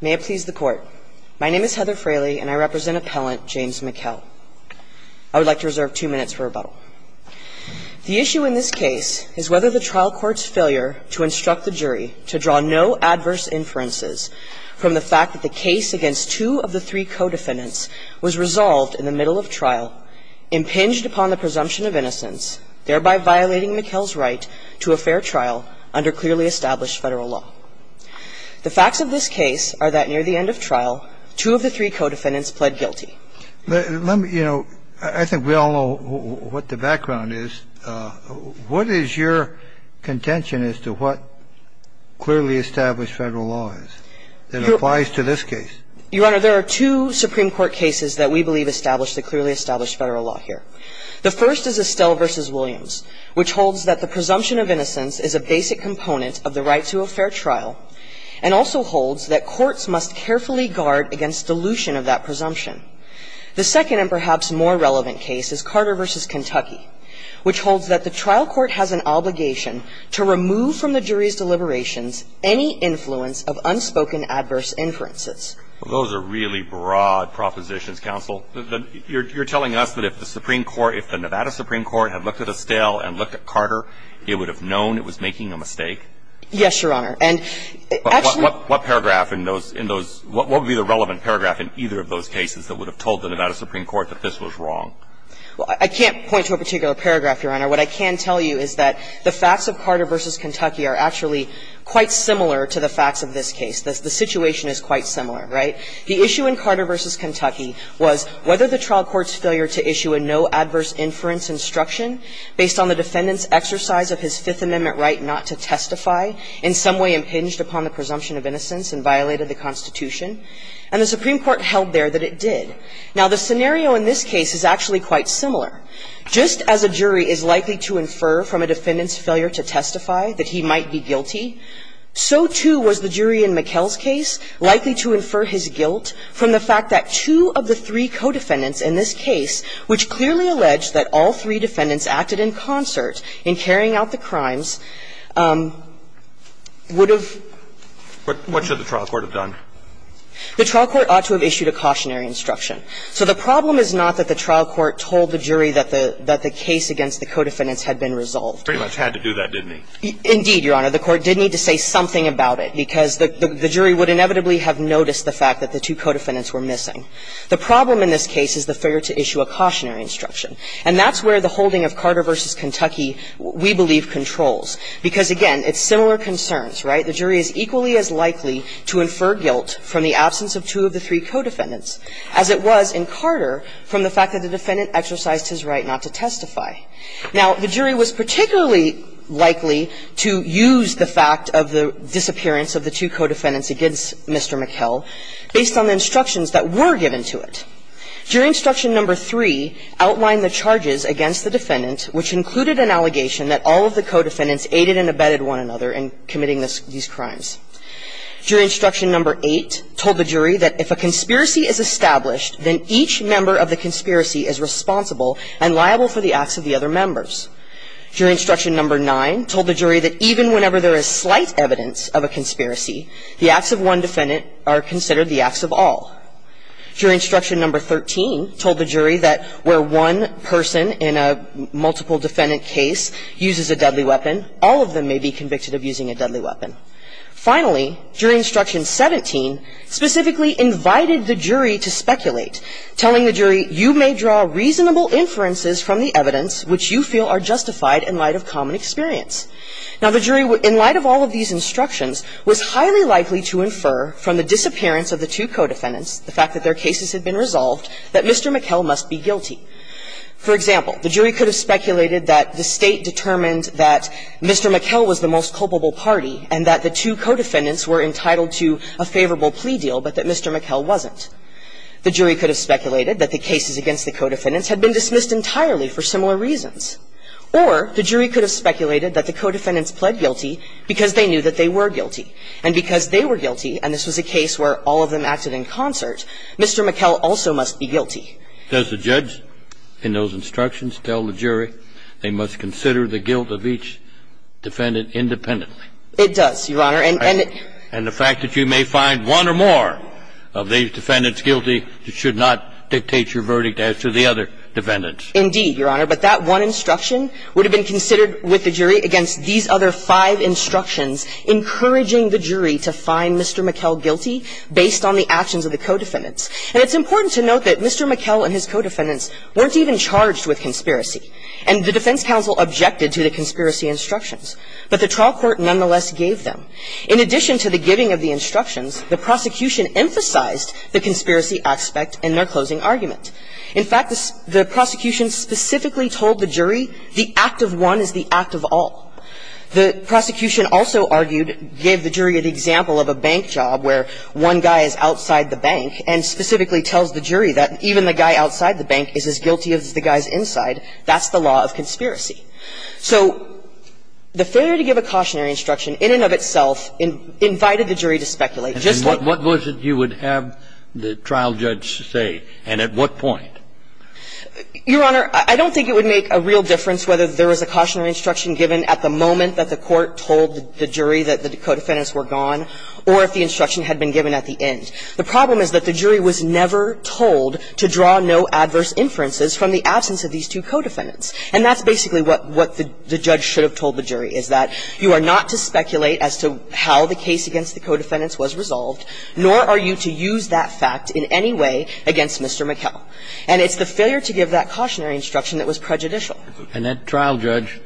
May it please the Court. My name is Heather Fraley, and I represent Appellant James Mikell. I would like to reserve two minutes for rebuttal. The issue in this case is whether the trial court's failure to instruct the jury to draw no adverse inferences from the fact that the case against two of the three co-defendants was resolved in the middle of trial, impinged upon the presumption of innocence, thereby violating Mikell's right to a fair trial under clearly established Federal law. The facts of this case are that near the end of trial, two of the three co-defendants pled guilty. Let me, you know, I think we all know what the background is. What is your contention as to what clearly established Federal law is that applies to this case? Your Honor, there are two Supreme Court cases that we believe establish the clearly established Federal law here. The first is Estelle v. Williams, which holds that the presumption of innocence is a basic component of the right to a fair trial, and also holds that courts must carefully guard against dilution of that presumption. The second and perhaps more relevant case is Carter v. Kentucky, which holds that the trial court has an obligation to remove from the jury's deliberations any influence of unspoken adverse inferences. Those are really broad propositions, counsel. You're telling us that if the Supreme Court, if the Nevada Supreme Court had looked at Estelle and looked at Carter, it would have known it was making a mistake? Yes, Your Honor. And actually What paragraph in those, in those, what would be the relevant paragraph in either of those cases that would have told the Nevada Supreme Court that this was wrong? Well, I can't point to a particular paragraph, Your Honor. What I can tell you is that the facts of Carter v. Kentucky are actually quite similar to the facts of this case. The situation is quite similar. Right? The issue in Carter v. Kentucky was whether the trial court's failure to issue a no-adverse-inference instruction based on the defendant's exercise of his Fifth Amendment right not to testify in some way impinged upon the presumption of innocence and violated the Constitution. And the Supreme Court held there that it did. Now, the scenario in this case is actually quite similar. Just as a jury is likely to infer from a defendant's failure to testify that he might be guilty, so, too, was the jury in McKell's case likely to infer his guilt from the fact that two of the three co-defendants in this case, which clearly alleged that all three defendants acted in concert in carrying out the crimes, would have What should the trial court have done? The trial court ought to have issued a cautionary instruction. So the problem is not that the trial court told the jury that the case against the co-defendants had been resolved. Indeed, Your Honor. The court did need to say something about it, because the jury would inevitably have noticed the fact that the two co-defendants were missing. The problem in this case is the failure to issue a cautionary instruction. And that's where the holding of Carter v. Kentucky, we believe, controls. Because, again, it's similar concerns, right? The jury is equally as likely to infer guilt from the absence of two of the three co-defendants as it was in Carter from the fact that the defendant exercised his right not to testify. Now, the jury was particularly likely to use the fact of the disappearance of the two co-defendants against Mr. McKell based on the instructions that were given to it. Jury instruction number three outlined the charges against the defendant, which included an allegation that all of the co-defendants aided and abetted one another in committing these crimes. Jury instruction number eight told the jury that if a conspiracy is established, then each member of the conspiracy is responsible and liable for the acts of the other members. Jury instruction number nine told the jury that even whenever there is slight evidence of a conspiracy, the acts of one defendant are considered the acts of all. Jury instruction number 13 told the jury that where one person in a multiple defendant case uses a deadly weapon, all of them may be convicted of using a deadly weapon. Finally, jury instruction 17 specifically invited the jury to speculate, telling the jury, you may draw reasonable inferences from the evidence which you feel are justified in light of common experience. Now, the jury, in light of all of these instructions, was highly likely to infer from the disappearance of the two co-defendants, the fact that their cases had been resolved, that Mr. McKell must be guilty. For example, the jury could have speculated that the State determined that Mr. McKell was the most culpable party and that the two co-defendants were entitled to a favorable plea deal, but that Mr. McKell wasn't. The jury could have speculated that the cases against the co-defendants had been dismissed entirely for similar reasons. Or the jury could have speculated that the co-defendants pled guilty because they knew that they were guilty. And because they were guilty, and this was a case where all of them acted in concert, Mr. McKell also must be guilty. Does the judge in those instructions tell the jury they must consider the guilt of each defendant independently? It does, Your Honor, and the fact that you may find one or more of these defendants guilty should not dictate your verdict as to the other defendants. Indeed, Your Honor, but that one instruction would have been considered with the jury against these other five instructions, encouraging the jury to find Mr. McKell guilty based on the actions of the co-defendants. And it's important to note that Mr. McKell and his co-defendants weren't even charged with conspiracy, and the defense counsel objected to the conspiracy instructions, but the trial court nonetheless gave them. In addition to the giving of the instructions, the prosecution emphasized the conspiracy aspect in their closing argument. In fact, the prosecution specifically told the jury the act of one is the act of all. The prosecution also argued, gave the jury an example of a bank job where one guy is outside the bank and specifically tells the jury that even the guy outside the bank is as guilty as the guys inside, that's the law of conspiracy. So the failure to give a cautionary instruction in and of itself invited the jury to speculate just like that. And that's what the jury would have the trial judge say, and at what point? Your Honor, I don't think it would make a real difference whether there was a cautionary instruction given at the moment that the court told the jury that the co-defendants were gone, or if the instruction had been given at the end. The problem is that the jury was never told to draw no adverse inferences from the absence of these two co-defendants. And that's basically what the judge should have told the jury, is that you are not to speculate as to how the case against the co-defendants was resolved, nor are you to use that fact in any way against Mr. McKell. And it's the failure to give that cautionary instruction that was prejudicial. And that trial judge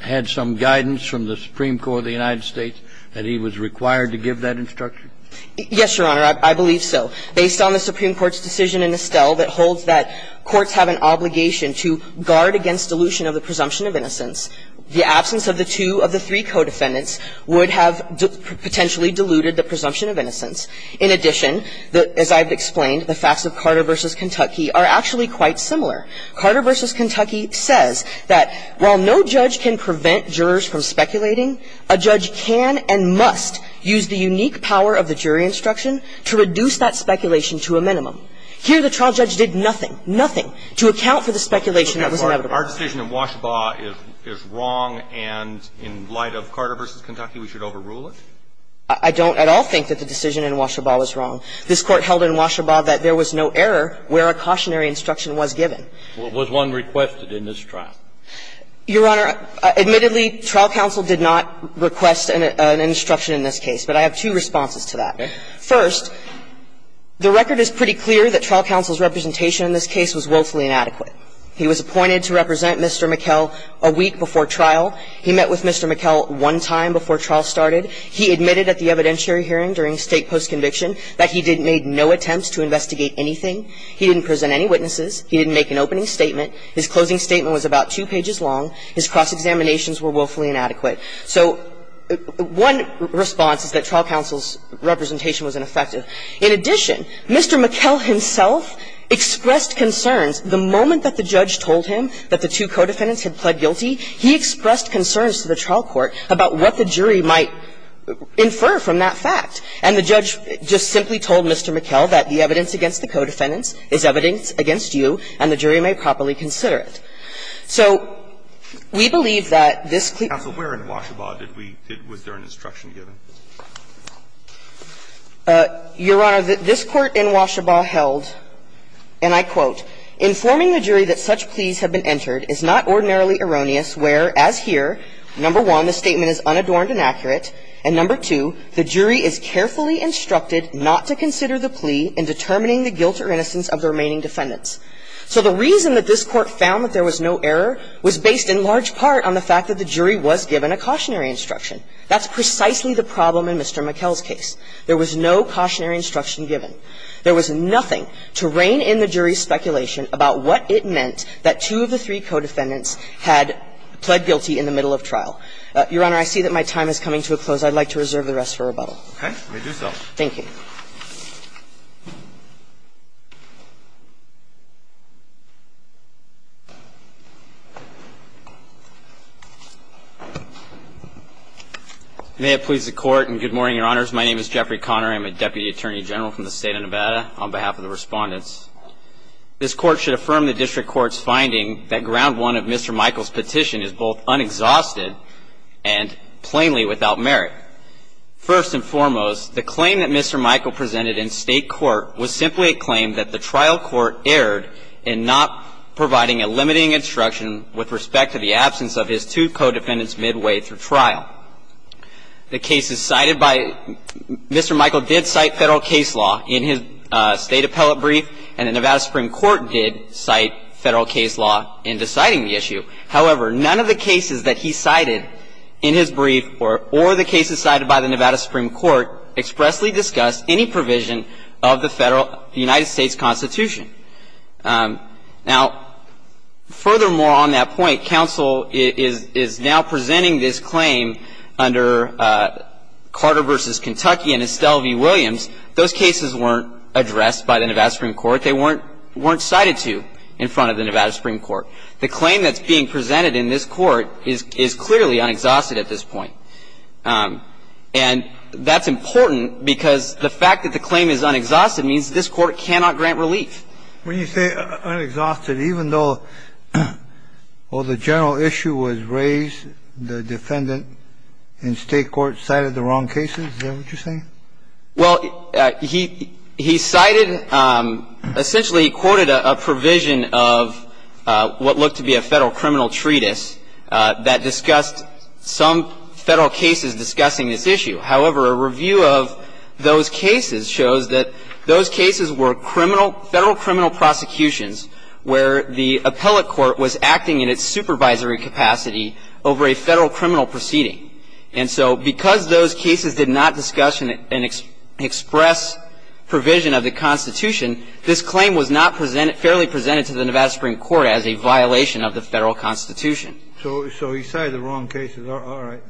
had some guidance from the Supreme Court of the United States that he was required to give that instruction? Yes, Your Honor, I believe so. Based on the Supreme Court's decision in Estelle that holds that courts have an obligation to guard against dilution of the presumption of innocence, the absence of the two of the three co-defendants would have potentially diluted the presumption of innocence. In addition, as I've explained, the facts of Carter v. Kentucky are actually quite similar. Carter v. Kentucky says that while no judge can prevent jurors from speculating, a judge can and must use the unique power of the jury instruction to reduce that speculation to a minimum. Here, the trial judge did nothing, nothing, to account for the speculation that was inevitable. Our decision in Washaba is wrong, and in light of Carter v. Kentucky, we should overrule it? I don't at all think that the decision in Washaba was wrong. This Court held in Washaba that there was no error where a cautionary instruction was given. Was one requested in this trial? Your Honor, admittedly, trial counsel did not request an instruction in this case, but I have two responses to that. First, the record is pretty clear that trial counsel's representation in this case was willfully inadequate. He was appointed to represent Mr. McKell a week before trial. He met with Mr. McKell one time before trial started. He admitted at the evidentiary hearing during state post-conviction that he didn't make no attempts to investigate anything. He didn't present any witnesses. He didn't make an opening statement. His closing statement was about two pages long. His cross-examinations were willfully inadequate. So one response is that trial counsel's representation was ineffective. In addition, Mr. McKell himself expressed concerns. The moment that the judge told him that the two co-defendants had pled guilty, he expressed concerns to the trial court about what the jury might infer from that fact. And the judge just simply told Mr. McKell that the evidence against the co-defendants is evidence against you, and the jury may properly consider it. So we believe that this clearly was an error in Washaba, that there was an instruction given. Your Honor, this Court in Washaba held, and I quote, "...informing the jury that such pleas have been entered is not ordinarily erroneous, where, as here, number one, the statement is unadorned and accurate, and number two, the jury is carefully instructed not to consider the plea in determining the guilt or innocence of the remaining defendants." So the reason that this Court found that there was no error was based in large part on the fact that the jury was given a cautionary instruction. That's precisely the problem in Mr. McKell's case. There was no cautionary instruction given. There was nothing to rein in the jury's speculation about what it meant that two of the three co-defendants had pled guilty in the middle of trial. Your Honor, I see that my time is coming to a close. I'd like to reserve the rest for rebuttal. Roberts. Thank you. May it please the Court, and good morning, Your Honors. My name is Jeffrey Conner. I'm a Deputy Attorney General from the State of Nevada. On behalf of the Respondents, this Court should affirm the District Court's finding that ground one of Mr. Michael's petition is both unexhausted and plainly without merit. First and foremost, the claim that Mr. Michael presented in State Court was simply a claim that the trial court erred in not providing a limiting instruction with respect to the absence of his two co-defendants midway through trial. The cases cited by Mr. Michael did cite Federal case law in his State Appellate brief, and the Nevada Supreme Court did cite Federal case law in deciding the issue. However, none of the cases that he cited in his brief or the cases cited by the Nevada Supreme Court expressly discussed any provision of the United States Constitution. Now, furthermore, on that point, counsel is now presenting this claim under Carter v. Kentucky and Estelle v. Williams. Those cases weren't addressed by the Nevada Supreme Court. They weren't cited to in front of the Nevada Supreme Court. The claim that's being presented in this Court is clearly unexhausted at this point. And that's important because the fact that the claim is unexhausted means this Court cannot grant relief. When you say unexhausted, even though, well, the general issue was raised, the defendant in State Court cited the wrong cases? Is that what you're saying? Well, he cited – essentially, he quoted a provision of what looked to be a Federal criminal treatise that discussed some Federal cases discussing this issue. However, a review of those cases shows that those cases were criminal – Federal criminal prosecutions where the appellate court was acting in its supervisory capacity over a Federal criminal proceeding. And so because those cases did not discuss and express provision of the Constitution, this claim was not presented – fairly presented to the Nevada Supreme Court as a violation of the Federal Constitution. So he cited the wrong cases. All right.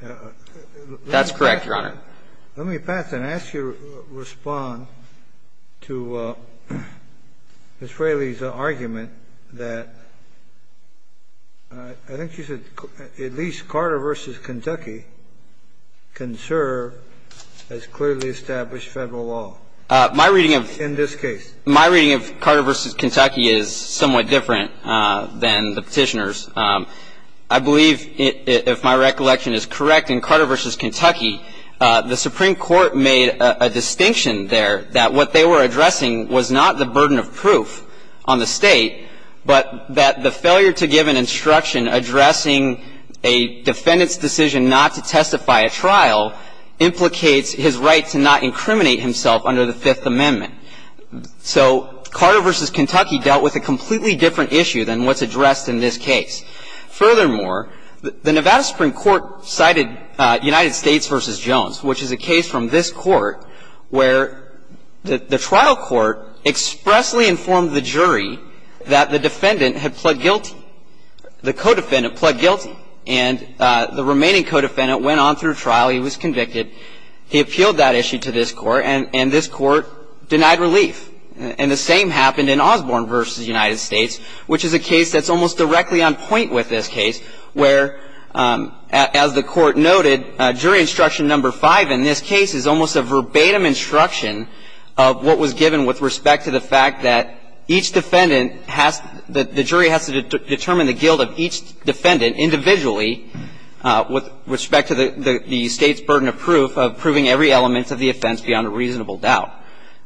That's correct, Your Honor. Let me pass and ask you to respond to Ms. Fraley's argument that – I think she said that at least Carter v. Kentucky can serve as clearly established Federal law in this case. My reading of Carter v. Kentucky is somewhat different than the Petitioner's. I believe, if my recollection is correct, in Carter v. Kentucky, the Supreme Court made a distinction there that what they were addressing was not the burden of proof on the State, but that the failure to give an instruction addressing a defendant's decision not to testify at trial implicates his right to not incriminate himself under the Fifth Amendment. So Carter v. Kentucky dealt with a completely different issue than what's addressed in this case. Furthermore, the Nevada Supreme Court cited United States v. Jones, which is a case from this Court, where the trial court expressly informed the jury that the defendant had pled guilty, the co-defendant pled guilty, and the remaining co-defendant went on through trial. He was convicted. He appealed that issue to this Court, and this Court denied relief. And the same happened in Osborne v. United States, which is a case that's almost directly on point with this case, where, as the Court noted, jury instruction number five in this case is almost a verbatim instruction of what was given with respect to the fact that each defendant has to – that the jury has to determine the guilt of each defendant individually with respect to the State's burden of proof of proving every element of the offense beyond a reasonable doubt.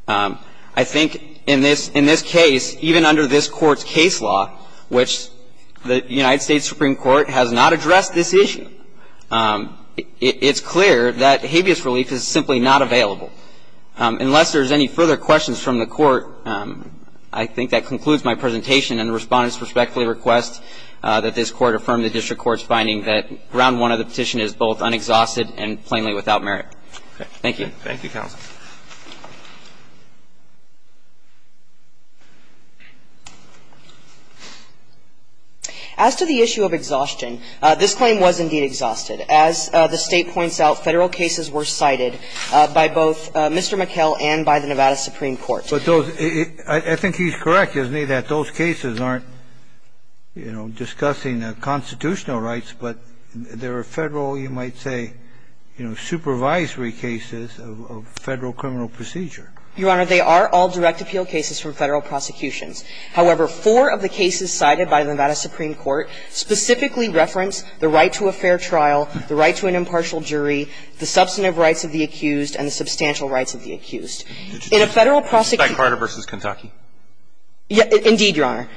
I think in this case, even under this Court's case law, which the United States Supreme Court has not addressed this issue. It's clear that habeas relief is simply not available. Unless there's any further questions from the Court, I think that concludes my presentation, and the Respondents respectfully request that this Court affirm the district court's finding that round one of the petition is both unexhausted and plainly without merit. Thank you. Thank you, counsel. As the State points out, Federal cases were cited by both Mr. McKell and by the Nevada Supreme Court. But those – I think he's correct, isn't he, that those cases aren't, you know, discussing constitutional rights, but there are Federal, you might say, you know, supervisory cases of Federal criminal procedure? Your Honor, they are all direct appeal cases from Federal prosecutions. However, four of the cases cited by the Nevada Supreme Court specifically reference the right to a fair trial, the right to an impartial jury, the substantive rights of the accused, and the substantial rights of the accused. In a Federal prosecution – Was that Carter v. Kentucky? Indeed, Your Honor.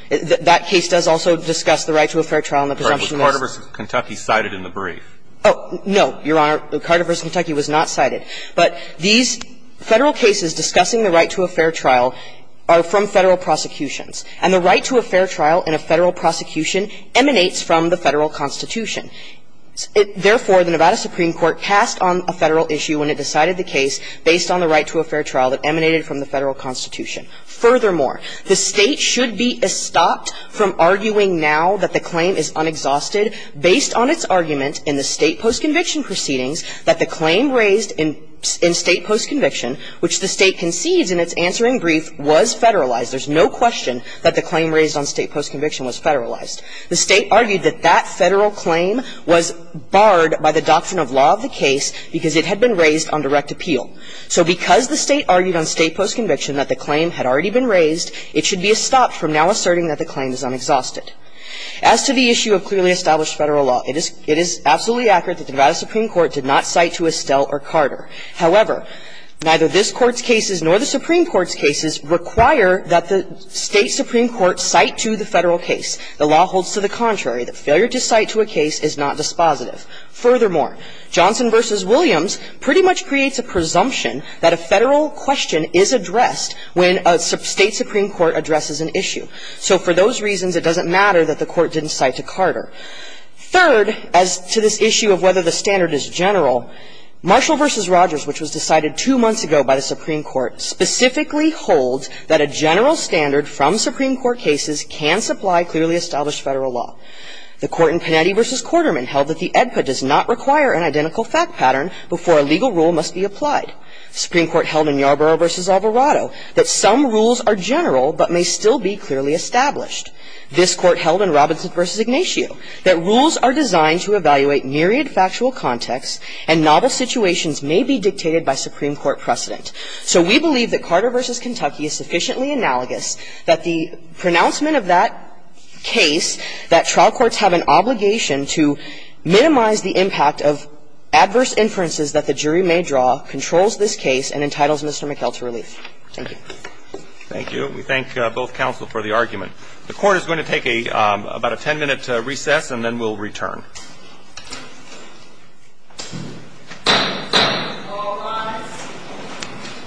That case does also discuss the right to a fair trial, and the presumption is – Was Carter v. Kentucky cited in the brief? Oh, no, Your Honor. Carter v. Kentucky was not cited. But these Federal cases discussing the right to a fair trial are from Federal prosecutions. And the right to a fair trial in a Federal prosecution emanates from the Federal Constitution. Therefore, the Nevada Supreme Court cast on a Federal issue when it decided the case based on the right to a fair trial that emanated from the Federal Constitution. Furthermore, the State should be estopped from arguing now that the claim is unexhausted based on its argument in the State postconviction proceedings that the claim raised in State postconviction, which the State concedes in its answering brief, was Federalized. There's no question that the claim raised on State postconviction was Federalized. The State argued that that Federal claim was barred by the doctrine of law of the case because it had been raised on direct appeal. So because the State argued on State postconviction that the claim had already been raised, it should be estopped from now asserting that the claim is unexhausted. As to the issue of clearly established Federal law, it is – it is absolutely accurate that the Nevada Supreme Court did not cite to Estelle or Carter. However, neither this Court's cases nor the Supreme Court's cases require that the State Supreme Court cite to the Federal case. The law holds to the contrary that failure to cite to a case is not dispositive. Furthermore, Johnson v. Williams pretty much creates a presumption that a Federal question is addressed when a State supreme court addresses an issue. So for those reasons, it doesn't matter that the Court didn't cite to Carter. Third, as to this issue of whether the standard is general, Marshall v. Rogers, which was decided two months ago by the Supreme Court, specifically holds that a general standard from Supreme Court cases can supply clearly established Federal law. The Court in Panetti v. Quarterman held that the EDPA does not require an identical fact pattern before a legal rule must be applied. The Supreme Court held in Yarborough v. Alvarado that some rules are general but may still be clearly established. This Court held in Robinson v. Ignatiu that rules are designed to evaluate myriad factual contexts and novel situations may be dictated by Supreme Court precedent. So we believe that Carter v. Kentucky is sufficiently analogous that the pronouncement of that case, that trial courts have an obligation to minimize the impact of adverse inferences that the jury may draw, controls this case, and entitles Mr. McHale to relief. Thank you. Roberts. Thank you. We thank both counsel for the argument. The Court is going to take a 10-minute recess and then we'll return.